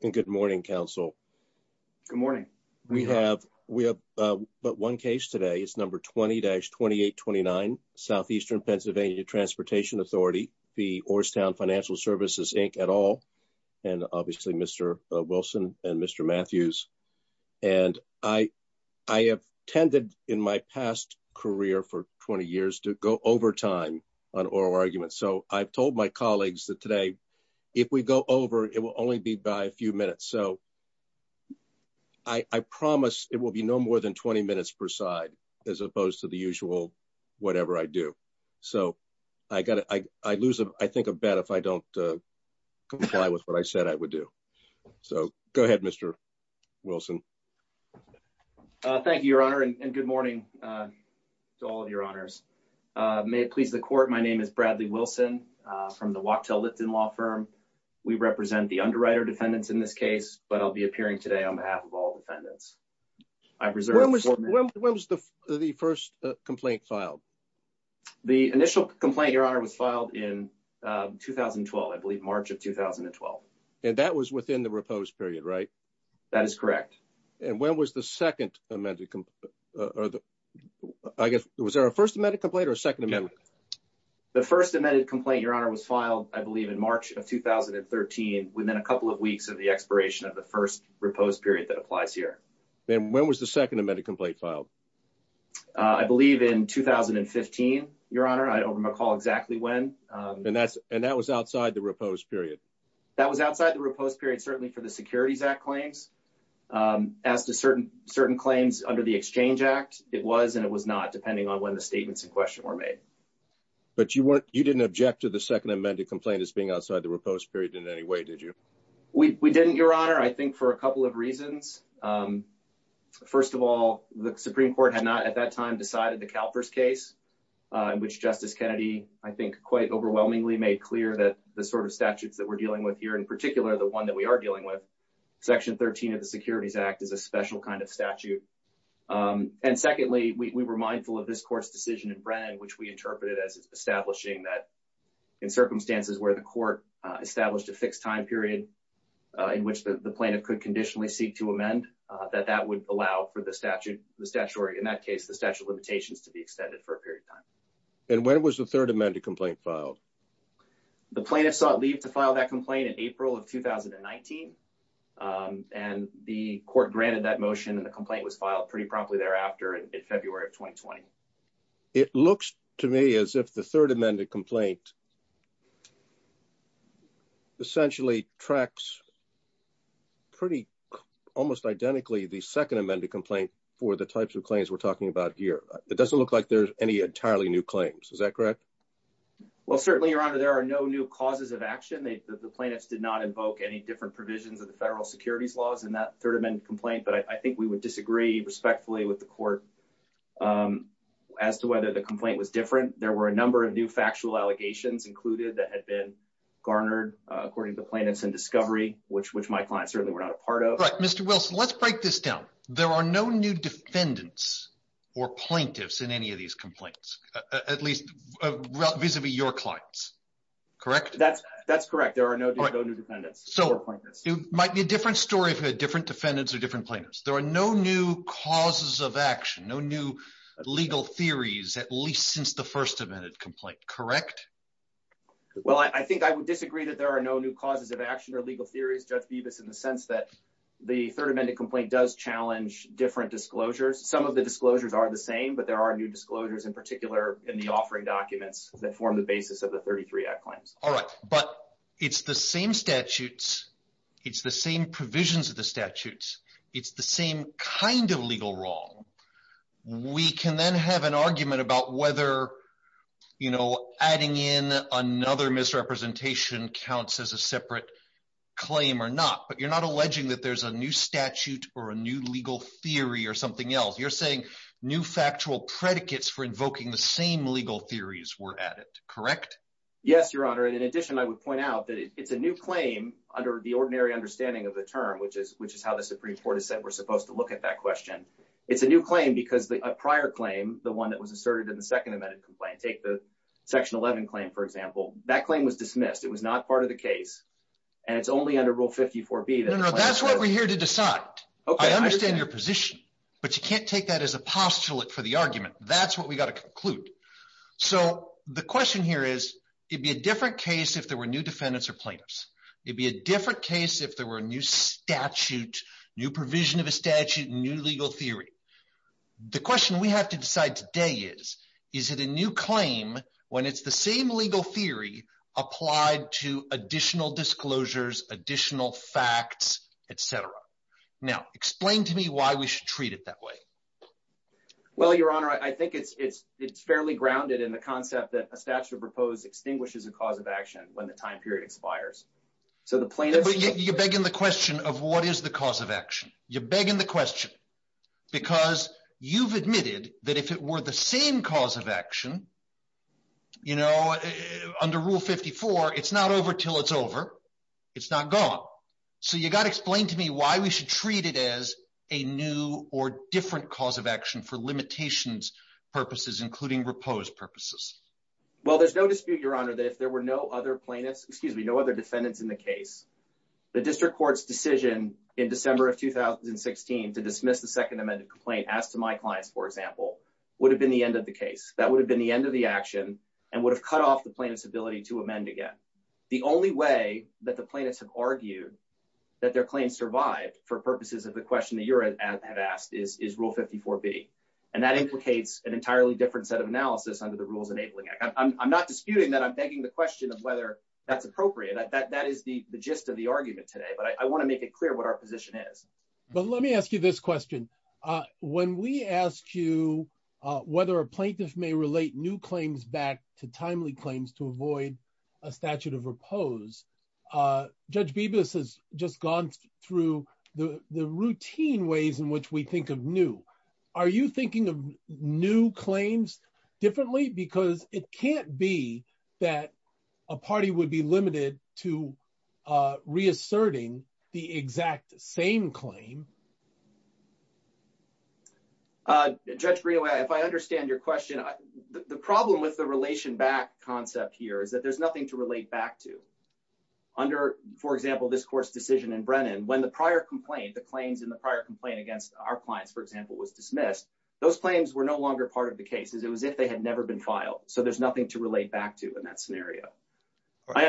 Good morning, Council. Good morning. We have but one case today. It's number 20-2829, Southeastern Pennsylvania Transportation Authority v. Orrstown Financial Services, Inc. et al., and obviously Mr. Wilson and Mr. Matthews. And I have tended in my past career for 20 years to go overtime on oral arguments. So I've told my colleagues that if we go over, it will only be by a few minutes. So I promise it will be no more than 20 minutes per side as opposed to the usual whatever I do. So I lose, I think, a bet if I don't comply with what I said I would do. So go ahead, Mr. Wilson. Thank you, Your Honor, and good morning to all of Your Honors. May it please the Court, my name is Bradley Wilson from the Wachtell Lipton Law Firm. We represent the underwriter defendants in this case, but I'll be appearing today on behalf of all defendants. I reserve When was the first complaint filed? The initial complaint, Your Honor, was filed in 2012. I believe March of 2012. And that was within the repose period, right? That is correct. And when was the second amended complaint? Or I guess, was there a first amended complaint or a second amendment? The first amended complaint, Your Honor, was filed, I believe, in March of 2013, within a couple of weeks of the expiration of the first repose period that applies here. And when was the second amended complaint filed? I believe in 2015, Your Honor, I don't recall exactly when. And that was outside the repose period? That was outside the repose period, certainly for the Securities Act claims. As to certain claims under the Exchange Act, it was and it was not, depending on when the statements in question were made. But you didn't object to the second amended complaint as being outside the repose period in any way, did you? We didn't, Your Honor, I think for a couple of reasons. First of all, the Supreme Court had not at that time decided the CalPERS case, in which Justice Kennedy, I think, quite overwhelmingly made clear that the sort of statutes that we're dealing with here, in particular, the one that we are dealing with, Section 13 of the Securities Act, is a special kind of statute. And secondly, we were mindful of this court's decision in Brennan, which we interpreted as establishing that in circumstances where the court established a fixed time period, in which the plaintiff could conditionally seek to amend, that that would allow for the statute, the statutory, in that case, the statute of limitations to be extended for a period of time. And when was the third amended complaint filed? The plaintiff sought leave to file that complaint in April of 2019. And the court granted that motion and the complaint was filed pretty promptly thereafter in February of 2020. It looks to me as if the third amended complaint essentially tracks pretty, almost identically, the second amended complaint for the types of claims we're talking about here. It doesn't look like there's any entirely new claims. Is that correct? Well, certainly, Your Honor, there are no new causes of action. The plaintiffs did not invoke any different provisions of the federal securities laws in that third amended complaint. But I think we would disagree respectfully with the court as to whether the complaint was different. There were a number of new factual allegations included that had been garnered, according to plaintiffs in discovery, which my clients certainly were not a part of. Right. Mr. Wilson, let's break this down. There are no new defendants or plaintiffs in any of these complaints, at least vis-a-vis your clients, correct? That's correct. There are no new defendants. So it might be a different story for different defendants or different plaintiffs. There are no new causes of action, no new legal theories, at least since the first amended complaint, correct? Well, I think I would disagree that there are no new causes of action or legal theories, Judge challenge different disclosures. Some of the disclosures are the same, but there are new disclosures, in particular, in the offering documents that form the basis of the 33 Act claims. All right. But it's the same statutes. It's the same provisions of the statutes. It's the same kind of legal wrong. We can then have an argument about whether, you know, adding in another misrepresentation counts as a separate claim or not. But you're not alleging that there's a new statute or a new legal theory or something else. You're saying new factual predicates for invoking the same legal theories were added, correct? Yes, Your Honor. And in addition, I would point out that it's a new claim under the ordinary understanding of the term, which is how the Supreme Court has said we're supposed to look at that question. It's a new claim because a prior claim, the one that was asserted in the second amended complaint, take the Section 11 claim, for example, that claim was dismissed. It was not part of the case. And it's only under Rule 54B. That's what we're here to decide. I understand your position, but you can't take that as a postulate for the argument. That's what we got to conclude. So the question here is, it'd be a different case if there were new defendants or plaintiffs. It'd be a different case if there were a new statute, new provision of a statute, new legal theory. The question we have to decide today is, is it a new claim when it's the same legal theory applied to additional disclosures, additional facts, et cetera? Now, explain to me why we should treat it that way. Well, Your Honor, I think it's fairly grounded in the concept that a statute proposed extinguishes a cause of action when the time period expires. So the plaintiff... You're begging the question of what is the cause of action? You're begging the question because you've admitted that if it were the same cause of action, you know, under Rule 54, it's not over till it's over. It's not gone. So you got to explain to me why we should treat it as a new or different cause of action for limitations purposes, including reposed purposes. Well, there's no dispute, Your Honor, that if there were no other plaintiffs, excuse me, no other defendants in the case, the district court's decision in December of 2016 to dismiss the Second Amendment complaint, as to my clients, for example, would have been the end of the case. That would have been the end of the action and would have cut off the plaintiff's ability to amend again. The only way that the plaintiffs have argued that their claim survived for purposes of the question that you have asked is Rule 54B. And that implicates an entirely different set of analysis under the Rules Enabling Act. I'm not disputing that. I'm begging the question of whether that's appropriate. That is the gist of the argument today. But I want to make it clear what our position is. But let me ask you this question. When we ask you whether a plaintiff may relate new claims back to timely claims to avoid a statute of repose, Judge Bibas has just gone through the routine ways in which we think of new. Are you thinking of new claims differently? Because it can't be that a party would be limited to reasserting the exact same claim. Judge Greenaway, if I understand your question, the problem with the relation back concept here is that there's nothing to relate back to. Under, for example, this court's decision in Brennan, when the prior complaint, the claims in the prior complaint against our clients, for example, was dismissed, those claims were no longer part of the case. It was as if they had never been filed. So there's nothing to relate back to in that scenario.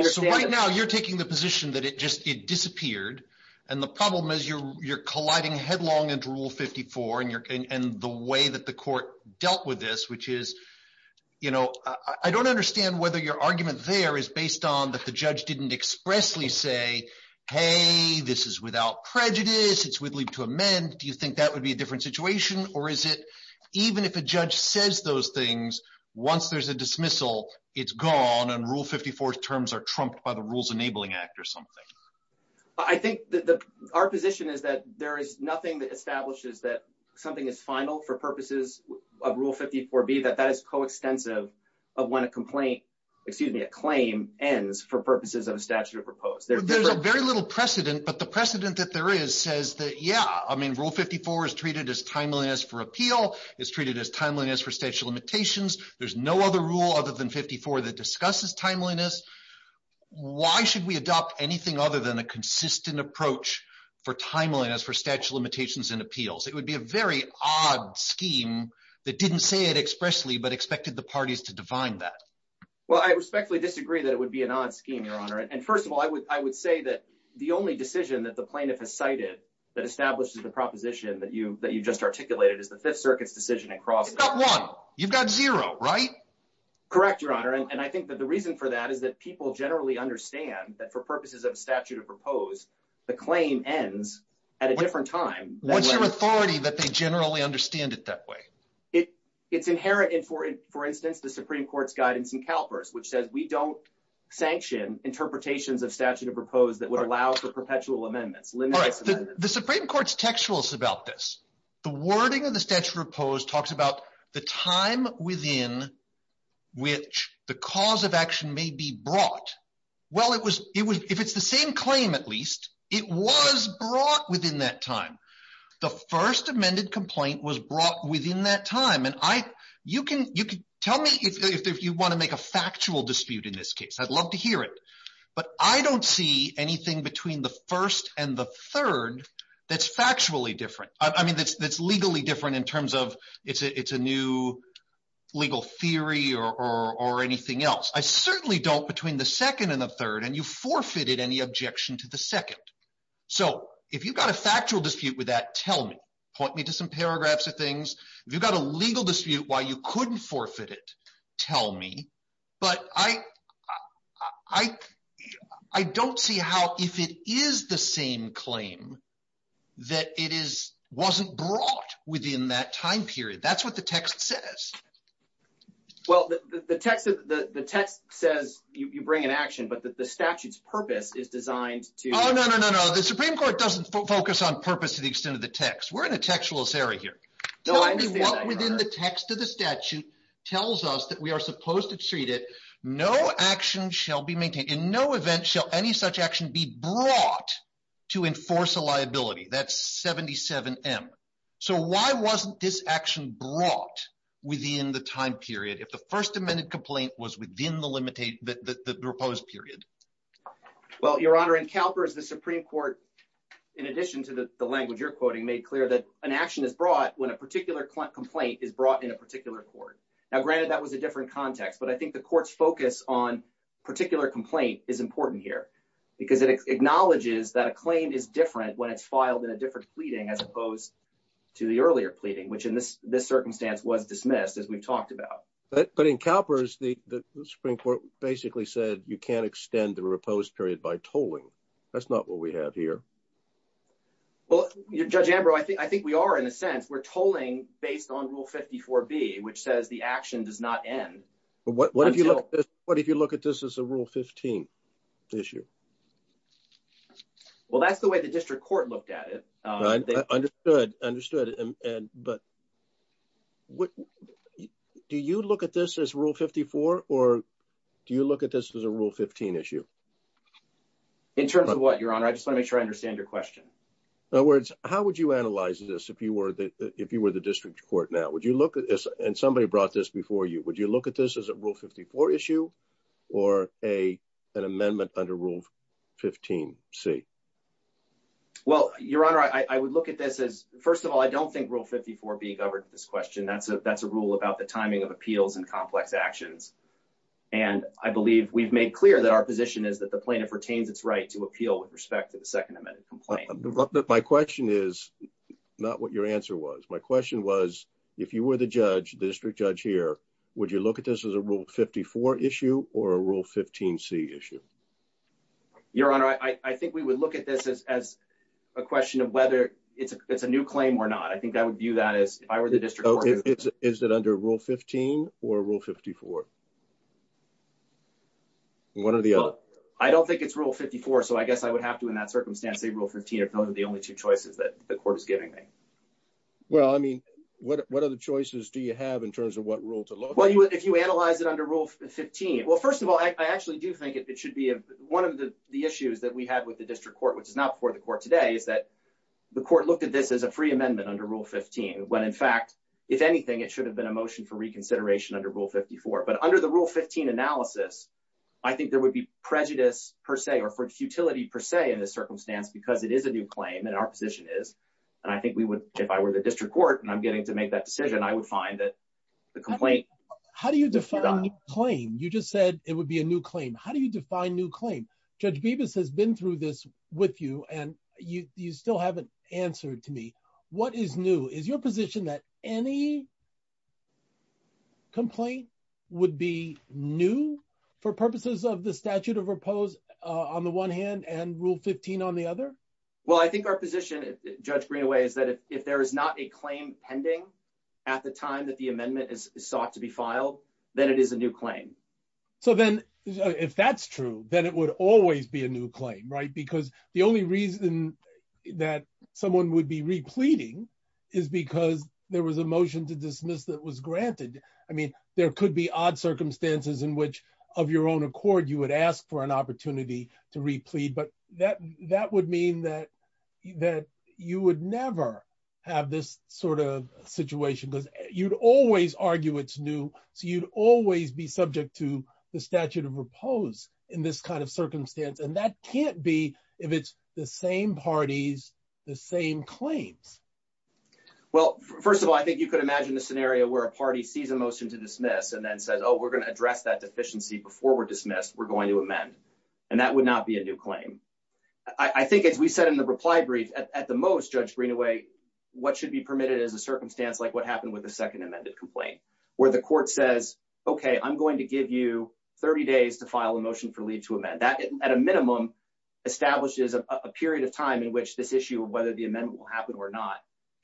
So right now you're taking the position that it just disappeared. And the problem is you're colliding headlong into Rule 54 and the way that the court dealt with this, which is, you know, I don't understand whether your argument there is based on that the judge didn't expressly say, hey, this is without prejudice. It's wittily to amend. Do you think that would be a different situation? Or is it even if a judge says those things, once there's a dismissal, it's gone and Rule 54 terms are trumped by the Rules Enabling Act or something? I think that our position is that there is nothing that establishes that something is final for purposes of Rule 54B, that that is coextensive of when a complaint, excuse me, a claim ends for purposes of a statute of repose. There's a very little precedent, but the precedent that there is says that, yeah, I mean, Rule 54 is treated as timeliness for appeal, is treated as timeliness for statute of limitations. There's no other rule other than 54 that discusses timeliness. Why should we adopt anything other than a consistent approach for timeliness for statute of limitations and appeals? It would be a very odd scheme that didn't say it expressly, but expected the parties to define that. Well, I respectfully disagree that it would be an odd scheme, Your Honor. And first of all, I would say that the only decision that the plaintiff has cited that establishes the proposition that you just articulated is the Fifth Circuit's decision in Crossland. It's not one. You've got zero, right? Correct, Your Honor. And I think that the reason for that is that people generally understand that for purposes of a statute of repose, the claim ends at a different time. What's your authority that they generally understand it that way? It's inherent in, for instance, the Supreme Court's guidance in CalPERS, which says we don't sanction interpretations of statute of repose that would allow for perpetual amendments. The Supreme Court's textuals about this, the wording of the statute of repose talks about the time within which the cause of action may be brought. Well, if it's the same claim, at least, it was brought within that time. The first amended complaint was brought within that dispute. I'd love to hear it, but I don't see anything between the first and the third that's factually different. I mean, that's legally different in terms of it's a new legal theory or anything else. I certainly don't between the second and the third, and you forfeited any objection to the second. So if you've got a factual dispute with that, tell me. Point me to some paragraphs of things. If you've got a legal dispute why you couldn't forfeit it, tell me. But I don't see how if it is the same claim that it wasn't brought within that time period. That's what the text says. Well, the text says you bring an action, but the statute's purpose is designed to... Oh, no, no, no, no. The Supreme Court doesn't focus on purpose to the extent of the text. We're in a textualist area here. Tell me what within the text of the statute tells us that we are supposed to treat it. No action shall be maintained. In no event shall any such action be brought to enforce a liability. That's 77M. So why wasn't this action brought within the time period if the first amended complaint was within the proposed period? Well, Your Honor, in CalPERS, the Supreme Court, in addition to the language you're quoting, made clear that an action is brought when a particular complaint is brought in a particular court. Now, granted, that was a different context, but I think the court's focus on particular complaint is important here because it acknowledges that a claim is different when it's filed in a different pleading as opposed to the earlier pleading, which in this circumstance was dismissed, as we've talked about. But in CalPERS, the Supreme Court basically said you can't extend the reposed period by tolling. That's not what we have here. Well, Judge Ambrose, I think we are, in a sense. We're tolling based on Rule 54B, which says the action does not end. But what if you look at this as a Rule 15 issue? Well, that's the way the district court looked at it. Understood. But do you look at this as Rule 54 or do you look at this as a Rule 15 issue? In terms of what, Your Honor? I just want to make sure I understand your question. In other words, how would you analyze this if you were the district court now? Would you look at this and somebody brought this before you, would you look at this as a Rule 54 issue or an amendment under Rule 15C? Well, Your Honor, I would look at this as, first of all, I don't think Rule 54B covered this question. That's a rule about the timing of appeals and complex actions. And I believe we've made clear that our position is that the plaintiff retains its right to appeal with respect to the second amendment complaint. But my question is not what your answer was. My question was, if you were the judge, the district judge here, would you look at this as a Rule 54 issue or a Rule 15C issue? Your Honor, I think we would look at this as a question of whether it's a new claim or not. I think I would view that as if I were the district court. Is it under Rule 15 or Rule 54? Well, I don't think it's Rule 54, so I guess I would have to, in that circumstance, say Rule 15 if those are the only two choices that the court is giving me. Well, I mean, what other choices do you have in terms of what rule to look at? Well, if you analyze it under Rule 15, well, first of all, I actually do think it should be one of the issues that we have with the district court, which is not before the court today, is that the court looked at this as a free amendment under Rule 15, when in fact, if anything, it should have been a motion for reconsideration under Rule 54. But under the Rule 15 analysis, I think there would be prejudice, per se, or futility, per se, in this circumstance, because it is a new claim, and our position is. And I think we would, if I were the district court, and I'm getting to make that decision, I would find that the complaint— How do you define new claim? You just said it would be a new claim. How do you define new claim? Judge Bevis has been through this with you, and you still haven't answered to me. What is new? Is your position that any complaint would be new for purposes of the statute of repose on the one hand and Rule 15 on the other? Well, I think our position, Judge Greenaway, is that if there is not a claim pending at the time that the amendment is sought to be filed, then it is a new claim. So then, if that's true, then it would always be a new claim, right? The only reason that someone would be repleading is because there was a motion to dismiss that was granted. I mean, there could be odd circumstances in which, of your own accord, you would ask for an opportunity to replead, but that would mean that you would never have this sort of situation, because you'd always argue it's new, so you'd always be subject to the statute of repose in this kind of circumstance, and that can't be if it's the same parties, the same claims. Well, first of all, I think you could imagine a scenario where a party sees a motion to dismiss and then says, oh, we're going to address that deficiency before we're dismissed. We're going to amend, and that would not be a new claim. I think, as we said in the reply brief, at the most, Judge Greenaway, what should be permitted is a circumstance like what happened with the second amended complaint, where the court says, okay, I'm going to give you 30 days to file a motion for leave to amend. That, at a minimum, establishes a period of time in which this issue of whether the amendment will happen or not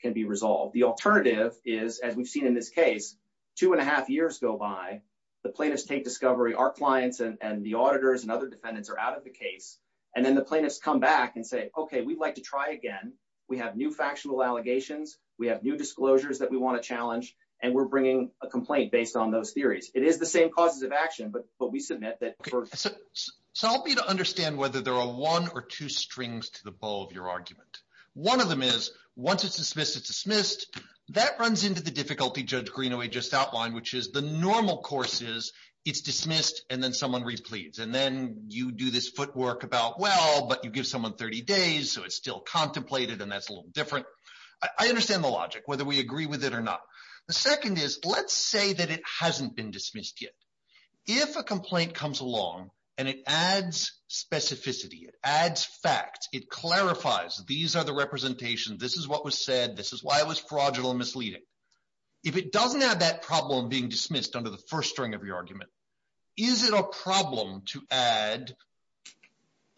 can be resolved. The alternative is, as we've seen in this case, two and a half years go by. The plaintiffs take discovery. Our clients and the auditors and other defendants are out of the case, and then the plaintiffs come back and say, okay, we'd like to try again. We have new factional allegations. We have new disclosures that we want to challenge, and we're bringing a complaint based on those theories. It is the same causes of action, but we submit that first. So, help me to understand whether there are one or two strings to the bow of your argument. One of them is, once it's dismissed, it's dismissed. That runs into the difficulty Judge Greenaway just outlined, which is the normal course is, it's dismissed, and then someone repleads, and then you do this footwork about, well, but you give someone 30 days, so it's still contemplated, and that's a little different. I understand the logic, whether we agree with it or not. The second is, let's say that it hasn't been dismissed yet. If a complaint comes along and it adds specificity, it adds facts, it clarifies these are the representations, this is what was said, this is why it was fraudulent and misleading. If it doesn't have that problem being dismissed under the first string of your argument, is it a problem to add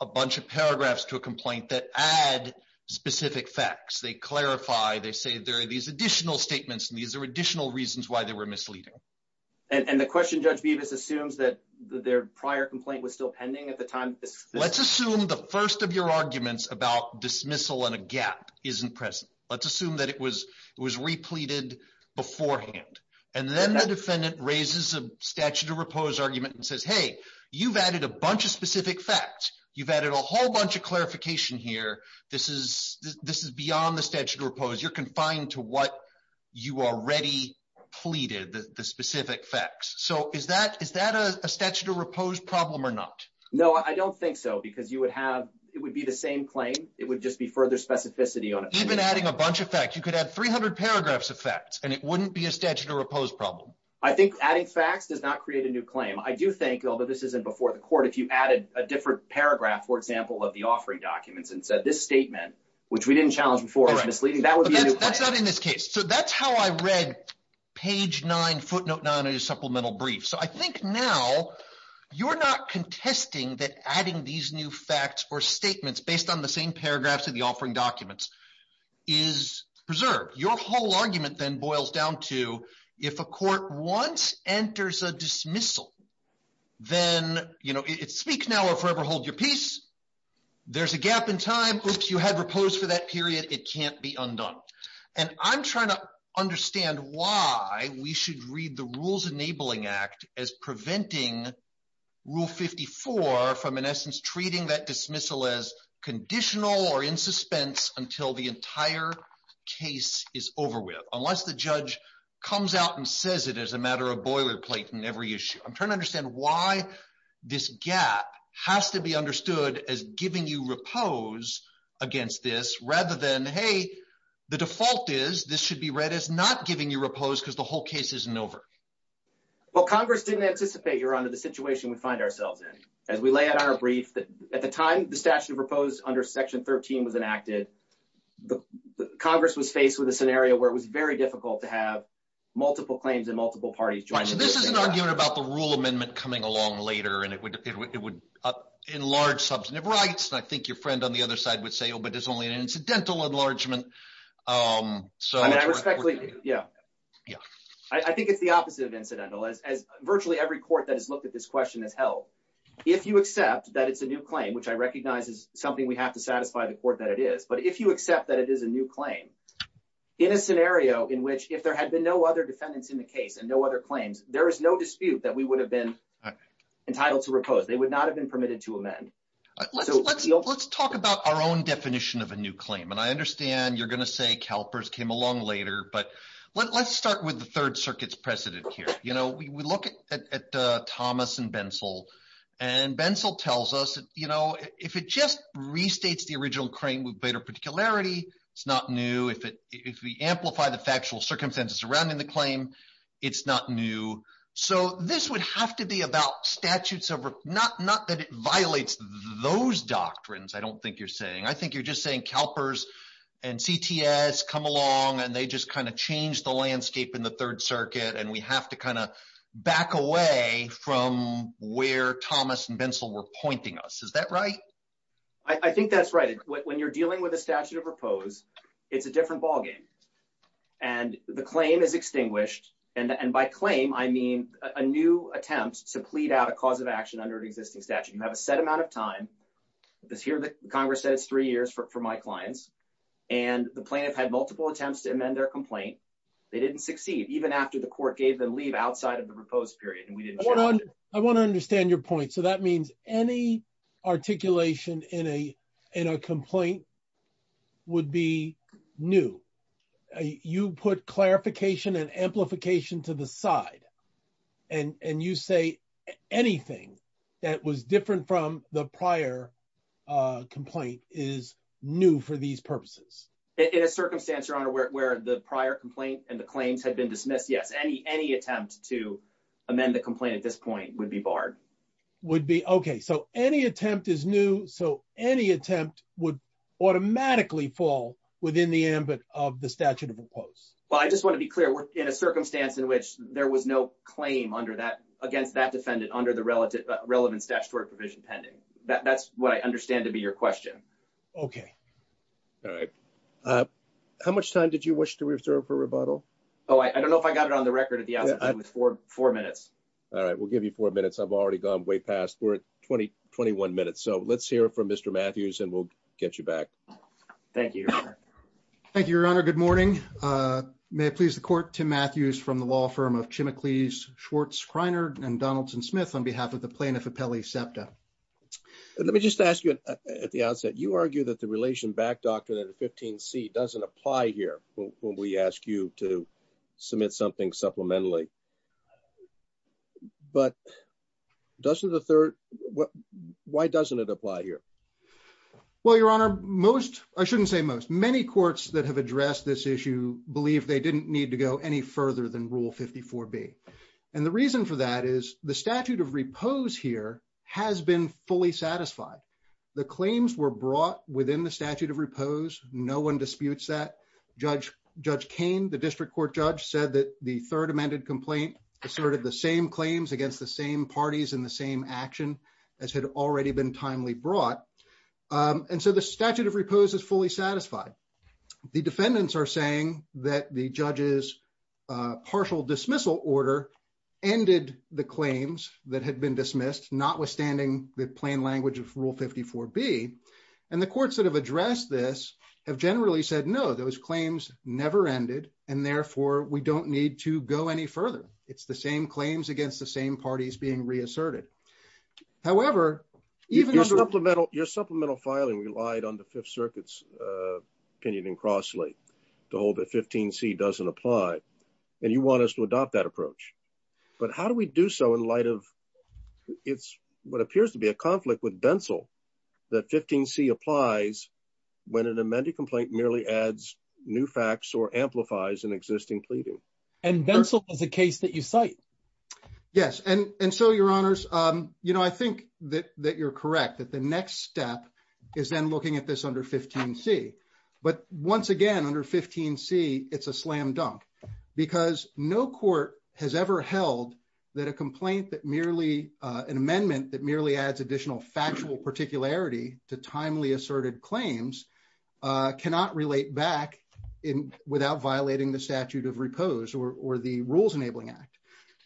a bunch of paragraphs to a complaint that add specific facts? They clarify, they say there are these additional statements, and these are additional reasons why they were misleading. And the question Judge Beavis assumes that their prior complaint was still pending at the time. Let's assume the first of your arguments about dismissal and a gap isn't present. Let's assume that it was repleted beforehand, and then the defendant raises a statute of repose argument and says, hey, you've added a bunch of specific facts. You've added a whole bunch of clarification here. This is beyond the statute of repose. You're confined to what you already pleaded, the specific facts. So is that a statute of repose problem or not? No, I don't think so, because it would be the same claim. It would just be further specificity on it. Even adding a bunch of facts, you could add 300 paragraphs of facts, and it wouldn't be a statute of repose problem. I think adding facts does not create a new claim. I do think, although this isn't before the court, if you added a different paragraph, for example, of the offering documents and said this statement, which we didn't challenge before, is misleading, that would be a new claim. That's not in this case. So that's how I read page nine, footnote nine of your supplemental brief. So I think now you're not contesting that adding these new facts or statements based on the same paragraphs of the offering documents is preserved. Your whole argument then boils down to if a court once enters a dismissal, then it's speak now or forever hold your peace. There's a gap in time. Oops, you had repose for that period. It can't be undone. And I'm trying to understand why we should read the Rules Enabling Act as preventing Rule 54 from, in essence, treating that dismissal as conditional or in suspense until the entire case is over with, unless the judge comes out and says it as a matter of boilerplate in every issue. I'm trying to understand why this gap has to be understood as giving you repose against this, rather than, hey, the default is this should be read as not giving you repose because the whole case isn't over. Well, Congress didn't anticipate, Your Honor, the situation we find ourselves in. As we lay out our brief, at the time the statute of repose under Section 13 was enacted, the Congress was faced with a scenario where it was very difficult to have multiple claims in multiple parties. So this is an argument about the rule amendment coming along later, and it would enlarge substantive rights. And I think your friend on the other side would say, oh, but there's only an incidental enlargement. Yeah, I think it's the opposite of incidental as virtually every court that has looked at this question has held. If you accept that it's a new claim, which I recognize is something we have to satisfy the court that it is, but if you accept that it is a new claim, in a scenario in which if there had been no other defendants in the case and no other claims, there is no dispute that we would have been entitled to repose. They would not have been permitted to amend. Let's talk about our own definition of a new claim. And I understand you're going to say CalPERS came along later, but let's start with the Third Circuit's precedent here. We look at Thomas and Bensel. And Bensel tells us, you know, if it just restates the original claim with greater particularity, it's not new. If we amplify the factual circumstances surrounding the claim, it's not new. So this would have to be about statutes of, not that it violates those doctrines, I don't think you're saying. I think you're just saying CalPERS and CTS come along and they just kind of change the landscape in the Third Circuit and we have to kind of back away from where Thomas and Bensel were pointing us. Is that right? I think that's right. When you're dealing with a statute of repose, it's a different ballgame. And the claim is extinguished. And by claim, I mean a new attempt to plead out a cause of action under an existing statute. You have a set amount of time, because here the Congress said it's three years for my clients, and the plaintiff had multiple attempts to amend their complaint. They didn't succeed, even after the court gave them leave outside of the repose period. I want to understand your point. So that means any articulation in a complaint would be new. You put clarification and amplification to the side, and you say anything that was different from the prior complaint is new for these purposes. In a circumstance, Your Honor, where the prior complaint and the claims had been dismissed, yes, any attempt to amend the complaint at this point would be barred. Would be, okay. So any attempt is new. So any attempt would automatically fall within the ambit of the statute of repose. Well, I just want to be clear. We're in a circumstance in which there was no claim against that defendant under the relevant statutory provision pending. That's what I understand to be your question. Okay. All right. How much time did you wish to reserve for rebuttal? Oh, I don't know if I got it on the record at the outset, but it was four minutes. All right. We'll give you four minutes. I've already gone way past. We're at 20, 21 minutes. So let's hear from Mr. Matthews, and we'll get you back. Thank you, Your Honor. Thank you, Your Honor. Good morning. May it please the court, Tim Matthews from the law firm of Chimicles, Schwartz, Kreiner, and Donaldson-Smith on behalf of the plaintiff, Apelli Septa. And let me just ask you at the outset, you argue that the relation back doctrine at 15C doesn't apply here when we ask you to submit something supplementary. But doesn't the third, why doesn't it apply here? Well, Your Honor, most, I shouldn't say most, many courts that have addressed this issue believe they didn't need to go any further than Rule 54B. And the reason for that is the statute of repose here has been fully satisfied. The claims were brought within the statute of repose. No one disputes that. Judge Kane, the district court judge, said that the third amended complaint asserted the same claims against the same parties in the same action as had already been timely brought. And so the statute of repose is fully satisfied. The defendants are saying that the judge's partial dismissal order ended the claims that had been dismissed, notwithstanding the plain language of Rule 54B. And the courts that have addressed this have generally said, no, those claims never ended, and therefore we don't need to go any further. It's the same claims against the same parties being reasserted. However, even under- Your supplemental filing relied on the Fifth Circuit's opinion in Crossley to hold that 15C doesn't apply. And you want us to adopt that approach. But how do we do so in light of, it's what appears to be a conflict with Bensel, that 15C applies when an amended complaint merely adds new facts or amplifies an existing pleading. And Bensel is a case that you cite. Yes. And so, Your Honors, I think that you're correct, that the next step is then looking at this under 15C. But once again, under 15C, it's a slam dunk, because no court has ever held that a complaint that merely, an amendment that merely adds additional factual particularity to timely asserted claims cannot relate back without violating the statute of repose or the Rules Enabling Act.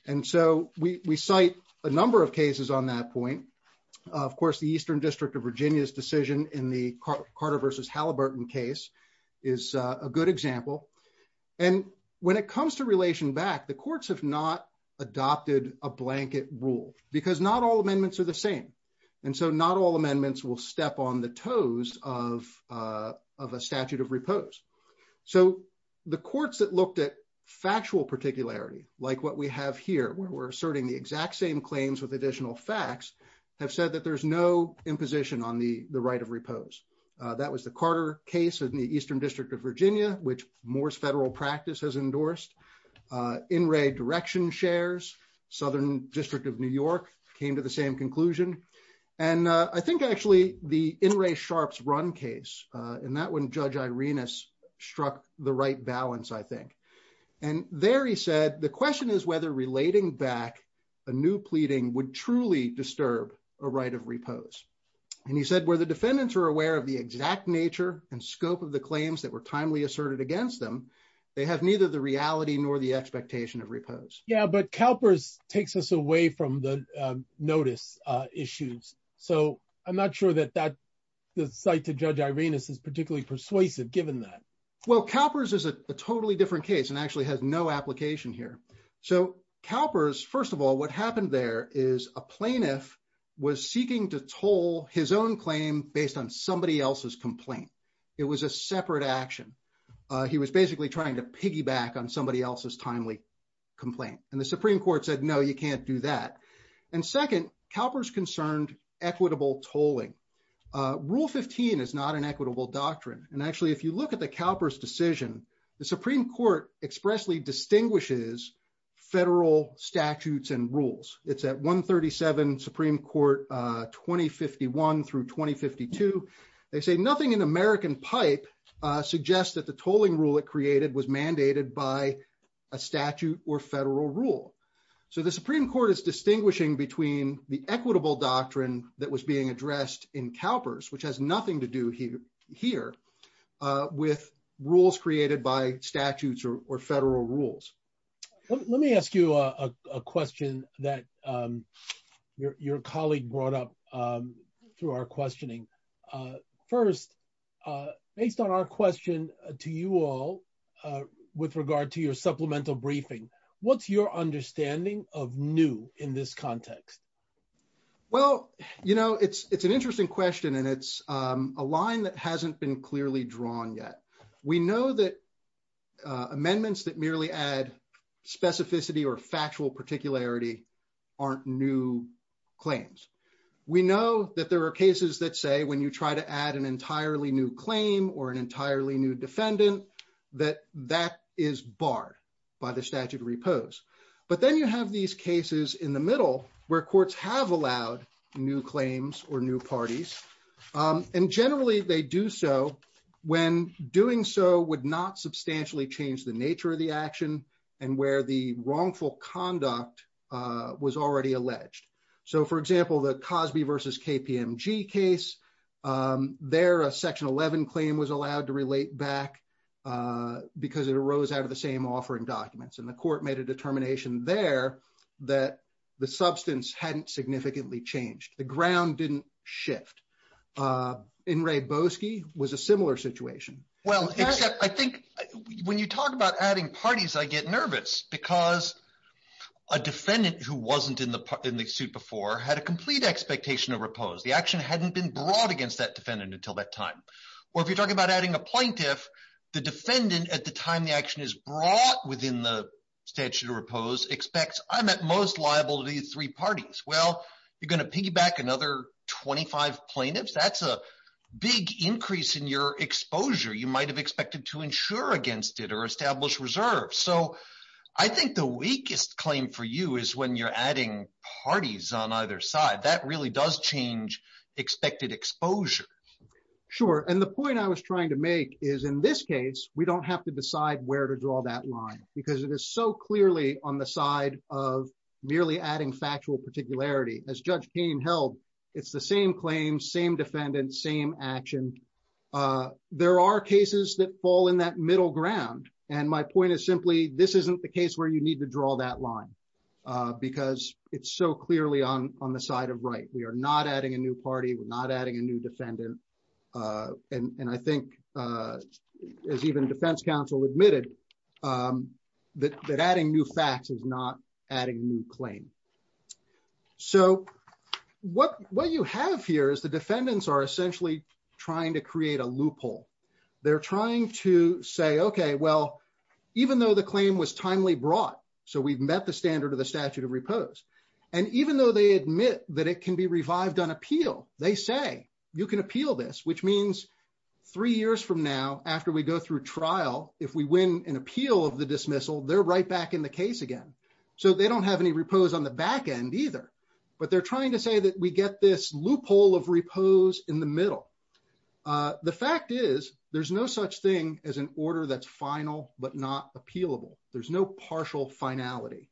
And so we cite a number of cases on that point. Of course, the Eastern District of Virginia's decision in the Carter v. Halliburton case is a good example. And when it comes to relation back, the courts have not adopted a blanket rule, because not all amendments are the same. And so not all amendments will step on the toes of a statute of repose. So the courts that looked at factual particularity, like what we have here, where we're asserting the exact same claims with additional facts, have said that there's no imposition on the right of repose. That was the Carter case in the Eastern District of Virginia, which Moore's federal practice has endorsed. In re direction shares, Southern District of New York came to the same conclusion. And I think actually, the In re sharps run case, and that one, Judge Irenas struck the right balance, I think. And there he said, the question is whether relating back a new pleading would truly disturb a right of repose. And he said, where the defendants are aware of the exact nature and scope of the claims that were timely asserted against them, they have neither the reality nor the expectation of repose. Yeah, but CalPERS takes us away from the notice issues. So I'm not sure that that cite to Judge Irenas is particularly persuasive, given that. Well, CalPERS is a totally different case and actually has no application here. So CalPERS, first of all, what happened there is a plaintiff was seeking to toll his own claim based on somebody else's complaint. It was a separate action. He was basically trying to piggyback on somebody else's timely complaint. And the Supreme Court said, no, you can't do that. And second, CalPERS concerned equitable tolling. Rule 15 is not an equitable doctrine. And actually, if you look at the CalPERS decision, the Supreme Court expressly distinguishes federal statutes and rules. It's at 137 Supreme Court 2051 through 2052. They say nothing in American pipe suggests that the tolling rule it created was mandated by a statute or federal rule. So the Supreme Court is distinguishing between the equitable doctrine that was being addressed in CalPERS, which has nothing to do here with rules created by statutes or federal rules. Let me ask you a question that your colleague brought up through our questioning. First, based on our question to you all with regard to your supplemental briefing, what's your understanding of new in this context? Well, it's an interesting question, and it's a line that hasn't been clearly drawn yet. We know that amendments that merely add specificity or factual particularity aren't new claims. We know that there are cases that say when you try to add an entirely new claim or entirely new defendant, that that is barred by the statute of repose. But then you have these cases in the middle where courts have allowed new claims or new parties. And generally, they do so when doing so would not substantially change the nature of the action and where the wrongful conduct was already alleged. So for example, the Cosby versus KPMG case, there a section 11 claim was allowed to relate back because it arose out of the same offering documents. And the court made a determination there that the substance hadn't significantly changed. The ground didn't shift. In Rehbosky was a similar situation. Well, except I think when you talk about adding parties, I get nervous because a defendant who wasn't in the suit before had a complete expectation of repose. The action hadn't been brought against that defendant until that time. Or if you're talking about adding a plaintiff, the defendant at the time the action is brought within the statute of repose expects I'm at most liable to be three parties. Well, you're going to piggyback another 25 plaintiffs. That's a big increase in your exposure. You might have expected to insure against it or establish reserves. So I think the weakest claim for you is when you're adding parties on either side. That really does change expected exposure. Sure. And the point I was trying to make is in this case, we don't have to decide where to draw that line because it is so clearly on the side of merely adding factual particularity. As Judge Kane held, it's the same claim, same defendant, same action. There are cases that fall in that middle ground. And my point is simply this isn't the case where you need to draw that line because it's so clearly on the side of right. We are not adding a new party. We're not adding a new defendant. And I think as even defense counsel admitted that adding new facts is not adding new claim. So what you have here is the defendants are essentially trying to create a loophole. They're trying to say, OK, well, even though the appeal is finally brought, so we've met the standard of the statute of repose, and even though they admit that it can be revived on appeal, they say you can appeal this, which means three years from now, after we go through trial, if we win an appeal of the dismissal, they're right back in the case again. So they don't have any repose on the back end either. But they're trying to say that we get this loophole of repose in the middle. The fact is there's no such thing as an order that's final but not appealable. There's no partial finality.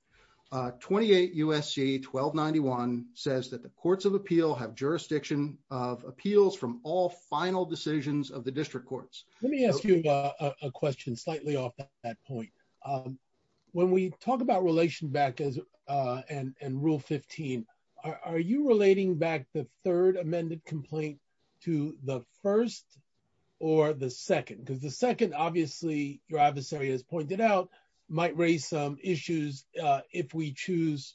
28 U.S.C. 1291 says that the courts of appeal have jurisdiction of appeals from all final decisions of the district courts. Let me ask you a question slightly off that point. When we talk about relation back as and rule 15, are you relating back the third amended complaint to the first or the second? Because the second, obviously, your adversary has pointed out, might raise some issues if we choose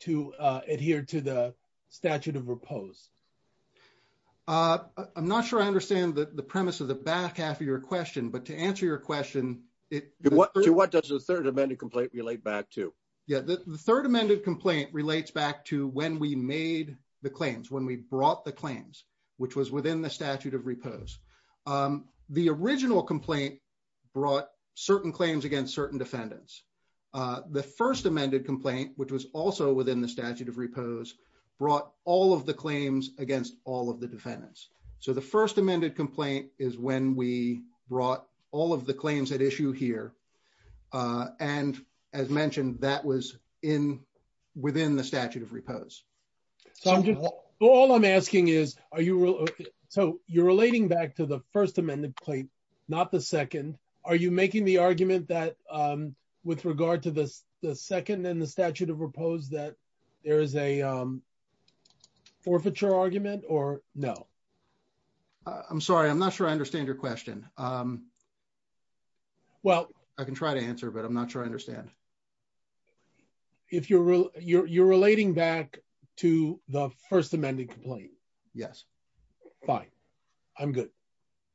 to adhere to the statute of repose. I'm not sure I understand the premise of the back half of your question, but to answer your question, what does the third amended complaint relate back to? Yeah, the third amended complaint relates back to when we made the claims, when we brought the claims, which was within the statute of repose. The original complaint brought certain claims against certain defendants. The first amended complaint, which was also within the statute of repose, brought all of the claims against all of the defendants. So the first amended complaint is when we brought all of the claims at issue here. And as mentioned, that was within the so you're relating back to the first amended claim, not the second. Are you making the argument that with regard to the second and the statute of repose that there is a forfeiture argument or no? I'm sorry. I'm not sure I understand your question. Well, I can try to answer, but I'm not sure I understand. If you're you're you're relating back to the first amended complaint. Yes. Fine. I'm good.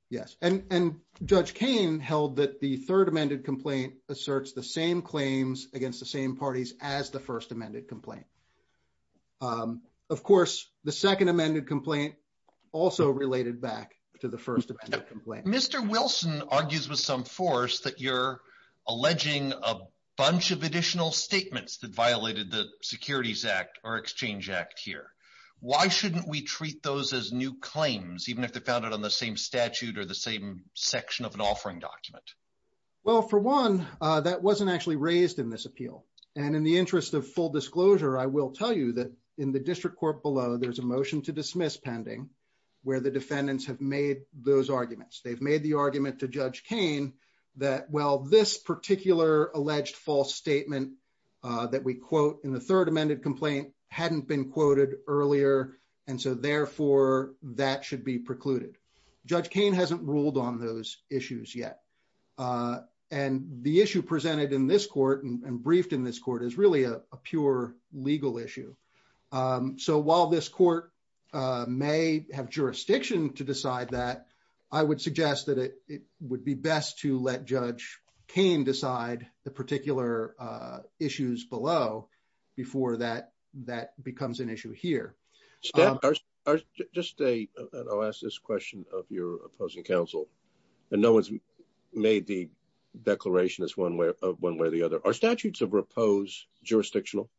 Yes. And Judge Kane held that the third amended complaint asserts the same claims against the same parties as the first amended complaint. Of course, the second amended complaint also related back to the first of Mr. Wilson argues with some force that you're alleging a bunch of additional statements that violated the Securities Act or Exchange Act here. Why shouldn't we treat those as new claims, even if they're founded on the same statute or the same section of an offering document? Well, for one, that wasn't actually raised in this appeal. And in the interest of full disclosure, I will tell you that in the district court below, there's a motion to dismiss pending where the defendants have made those arguments. They've made the argument to Judge Kane that, well, this particular alleged false statement that we quote in the third amended complaint hadn't been quoted earlier. And so therefore, that should be precluded. Judge Kane hasn't ruled on those issues yet. And the issue presented in this court and briefed in this court is really a pure legal issue. So while this court may have jurisdiction to decide that, I would suggest that it would be best to let Judge Kane decide the particular issues below before that becomes an issue here. Just a, I'll ask this question of your opposing counsel. And no one's made the declaration as one way or the other. Are statutes of repose jurisdictional?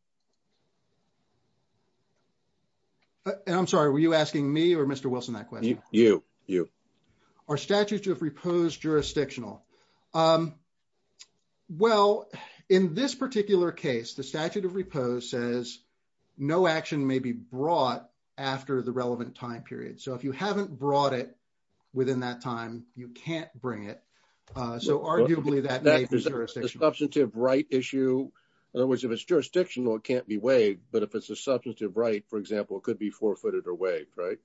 And I'm sorry, were you asking me or Mr. Wilson that question? You, you. Are statutes of repose jurisdictional? Well, in this particular case, the statute of repose says no action may be brought after the relevant time period. So if you haven't brought it a substantive right issue, in other words, if it's jurisdictional, it can't be waived. But if it's a substantive right, for example, it could be forfeited or waived, right?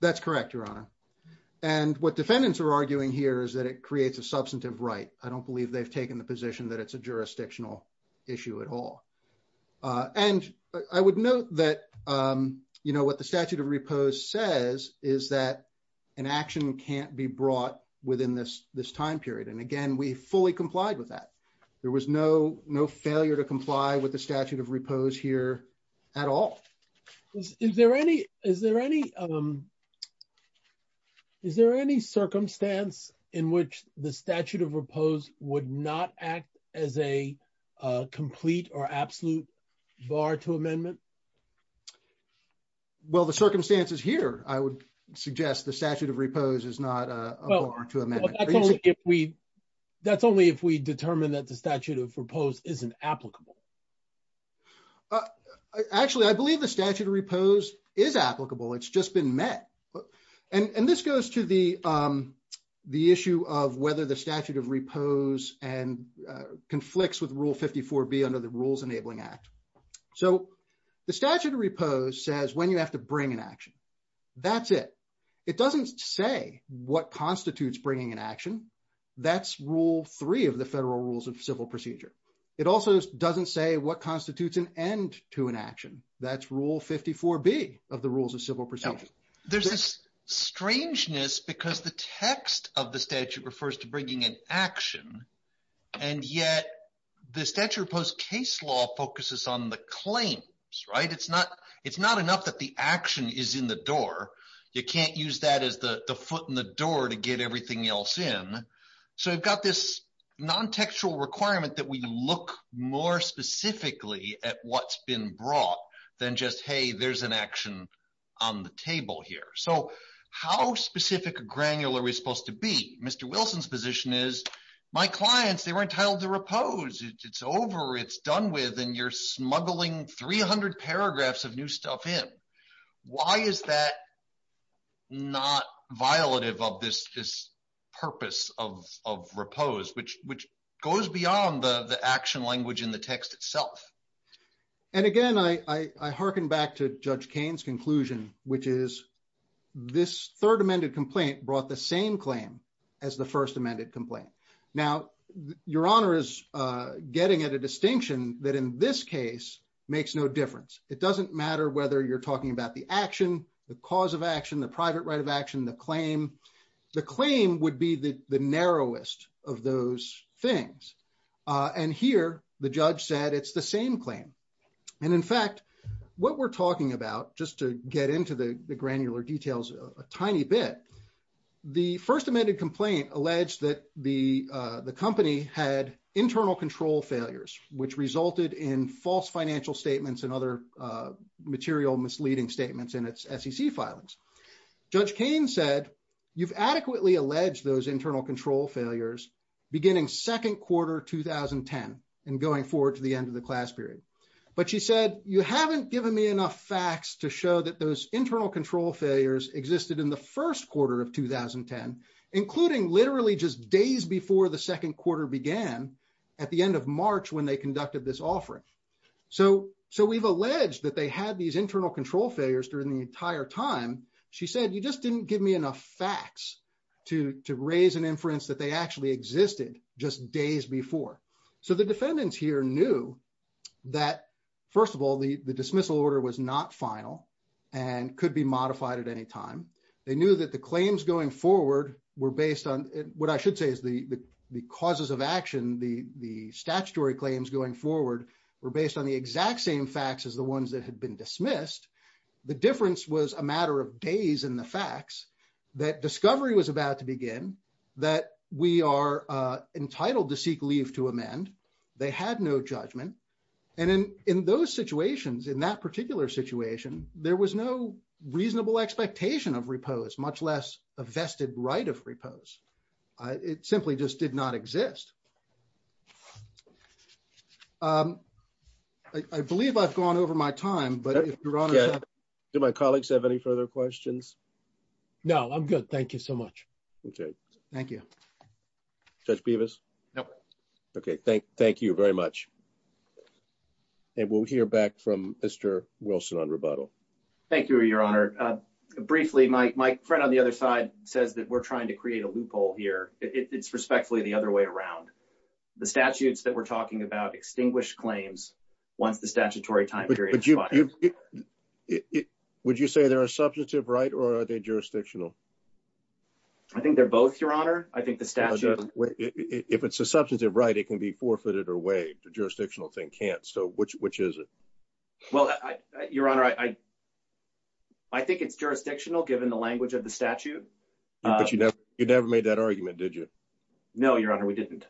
That's correct, Your Honor. And what defendants are arguing here is that it creates a substantive right. I don't believe they've taken the position that it's a jurisdictional issue at all. And I would note that, you know, what the statute of repose says is that an action can't be brought within this time period. And again, we fully complied with that. There was no failure to comply with the statute of repose here at all. Is there any circumstance in which the statute of repose would not act as a complete or absolute bar to amendment? Well, the circumstances here, I would suggest the statute of repose is not a bar to amendment. Well, that's only if we determine that the statute of repose isn't applicable. Actually, I believe the statute of repose is applicable. It's just been met. And this goes to the issue of whether the statute of repose conflicts with Rule 54B under the Rules Enabling Act. So the statute of repose says when you have to bring an action, that's it. It doesn't say what constitutes bringing an action. That's Rule 3 of the Federal Rules of Civil Procedure. It also doesn't say what constitutes an end to an action. That's Rule 54B of the Rules of Civil Procedure. There's this strangeness because the text of the statute refers to the claims. It's not enough that the action is in the door. You can't use that as the foot in the door to get everything else in. So we've got this non-textual requirement that we look more specifically at what's been brought than just, hey, there's an action on the table here. So how specific or granular are we supposed to be? Mr. Wilson's position is, my clients, they were entitled to repose. It's over. It's done with. And you're smuggling 300 paragraphs of new stuff in. Why is that not violative of this purpose of repose, which goes beyond the action language in the text itself? And again, I hearken back to Judge Kane's conclusion, which is this third amended complaint brought the same claim as the first amended complaint. Now, Your Honor is getting at a distinction that in this case makes no difference. It doesn't matter whether you're talking about the action, the cause of action, the private right of action, the claim. The claim would be the narrowest of those things. And here, the judge said, it's the same claim. And in fact, what we're talking about, just to get into the granular details a tiny bit, the first amended complaint alleged that the company had internal control failures, which resulted in false financial statements and other material misleading statements in its SEC filings. Judge Kane said, you've adequately alleged those internal control failures beginning second quarter 2010 and going forward to the end of the class period. But she said, you haven't given me enough facts to show that those internal control failures existed in the first quarter of 2010, including literally just days before the second quarter began at the end of March when they conducted this offering. So we've alleged that they had these internal control failures during the entire time. She said, you just didn't give me enough facts to raise an inference that they actually existed just days before. So the defendants here knew that, first of all, the dismissal order was not final and could be modified at any time. They knew that the claims going forward were based on what I should say is the causes of action. The statutory claims going forward were based on the exact same facts as the ones that had been dismissed. The difference was a matter of days in the facts that discovery was about to begin, that we are entitled to seek leave to amend. They had no judgment. And in those situations, in that particular situation, there was no reasonable expectation of repose, much less a vested right of repose. It simply just did not exist. I believe I've gone over my time, but if you're on. Do my colleagues have any further questions? No, I'm good. Thank you so much. Thank you, Judge Bevis. Okay, thank you very much. And we'll hear back from Mr. Wilson on rebuttal. Thank you, Your Honor. Briefly, my friend on the other side says that we're trying to create a loophole here. It's respectfully the other way around. The statutes that we're talking about extinguish claims once the statutory time period. Would you say there are substantive right or are they jurisdictional? I think they're both, Your Honor. I think the statute. If it's a substantive right, it can be forfeited or waived. The jurisdictional thing can't. So which is it? Well, Your Honor, I think it's jurisdictional, given the language of the statute. But you never made that argument, did you? No, Your Honor, we didn't.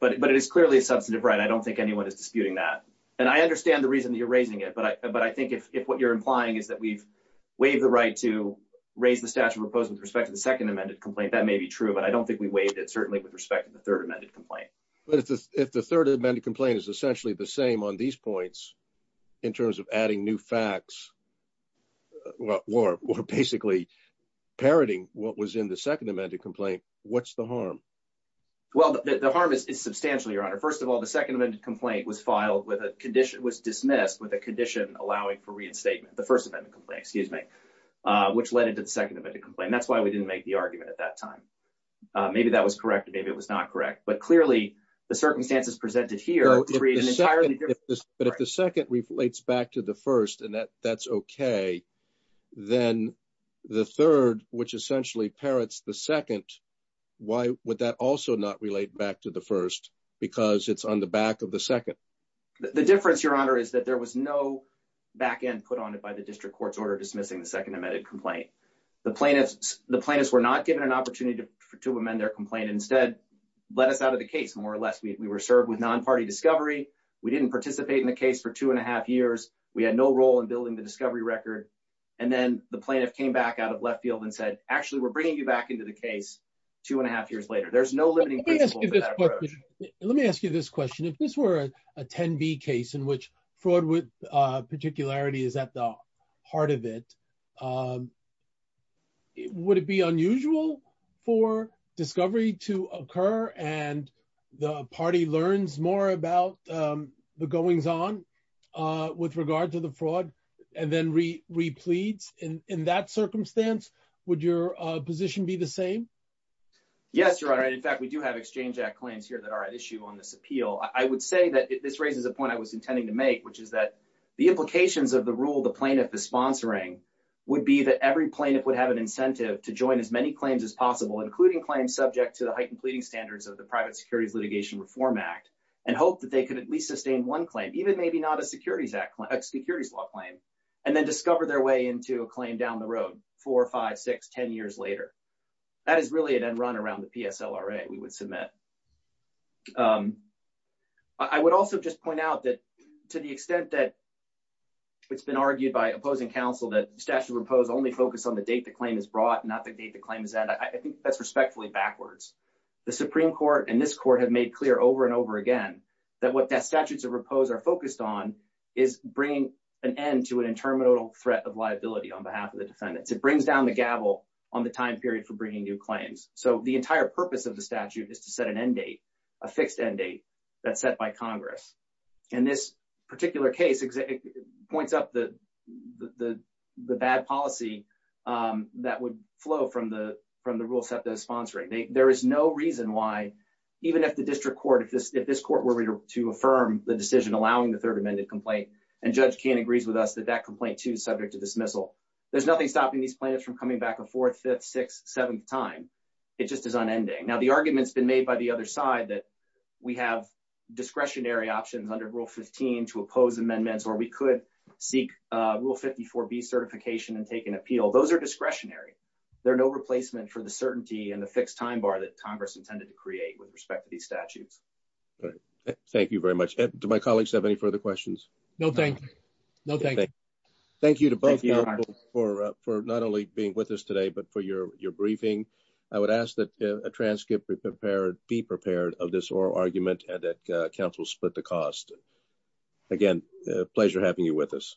But it is clearly a substantive right. I don't think anyone is disputing that. And I understand the reason that you're raising it. But I think if what you're implying is that we've waived the right to raise the statute proposed with respect to the second amended complaint, that may be true. But I don't think we waived it, certainly, with respect to the third amended complaint. But if the third amended complaint is essentially the same on these points, in terms of adding new facts, or basically parroting what was in the second amended complaint, what's the harm? Well, the harm is substantial, Your Honor. First of all, the second amended complaint was filed with a condition, was dismissed with a condition allowing for reinstatement, the first amendment complaint, excuse me, which led into the second amended complaint. That's why we didn't make the argument at that time. Maybe that was correct. Maybe it was not correct. But clearly, the circumstances presented here create an entirely different... But if the second relates back to the first, and that's okay, then the third, which essentially parrots the second, why would that also not relate back to the first, because it's on the back of the second? The difference, Your Honor, is that there was no back end put on it by the district court's order dismissing the second amended complaint. The plaintiffs were not given an opportunity to amend their complaint. Instead, let us out of the case, more or less. We were served with non-party discovery. We didn't participate in the case for two and a half years. We had no role in building the discovery record. And then the plaintiff came back out of left field and said, actually, we're bringing you back into the case two and a half years later. There's no limiting principle. Let me ask you this question. If this were a 10B case in which fraud with particularity is at the heart of it, would it be unusual for discovery to occur and the party learns more about the goings on with regard to the fraud and then re-pleads? And in that circumstance, would your position be the same? Yes, Your Honor. In fact, we do have Exchange Act claims here that are at issue on this appeal. I would say that this raises a point I was intending to make, which is that the implications of the rule the plaintiff is sponsoring would be that every plaintiff would have an incentive to join as many claims as possible, including claims subject to the heightened pleading standards of the Private Securities Litigation Reform Act and hope that they could at least sustain one claim, even maybe not a securities law claim, and then discover their into a claim down the road, four, five, six, ten years later. That is really an end run around the PSLRA we would submit. I would also just point out that to the extent that it's been argued by opposing counsel that the statute of repose only focused on the date the claim is brought, not the date the claim is ended, I think that's respectfully backwards. The Supreme Court and this court have made clear over and over again that what the statutes of repose are focused on is bringing an end to an interminable threat of liability on behalf of the defendants. It brings down the gavel on the time period for bringing new claims. So the entire purpose of the statute is to set an end date, a fixed end date, that's set by Congress. And this particular case points up the bad policy that would flow from the rule set that is sponsoring. There is no reason why, even if the district court, if this court were to affirm the decision allowing the third amended complaint, and Judge Kane agrees with us that that complaint too is subject to dismissal, there's nothing stopping these plaintiffs from coming back a fourth, fifth, sixth, seventh time. It just is unending. Now the argument's been made by the other side that we have discretionary options under Rule 15 to oppose amendments or we could seek Rule 54B certification and take an appeal. Those are discretionary. They're no replacement for the certainty and the fixed time bar that Congress intended to create with respect to these statutes. All right. Thank you very much. Do my colleagues have any further questions? No, thank you. No, thank you. Thank you to both for not only being with us today, but for your briefing. I would ask that TransCIP be prepared of this oral argument and that counsel split the cost. Again, a pleasure having you with us.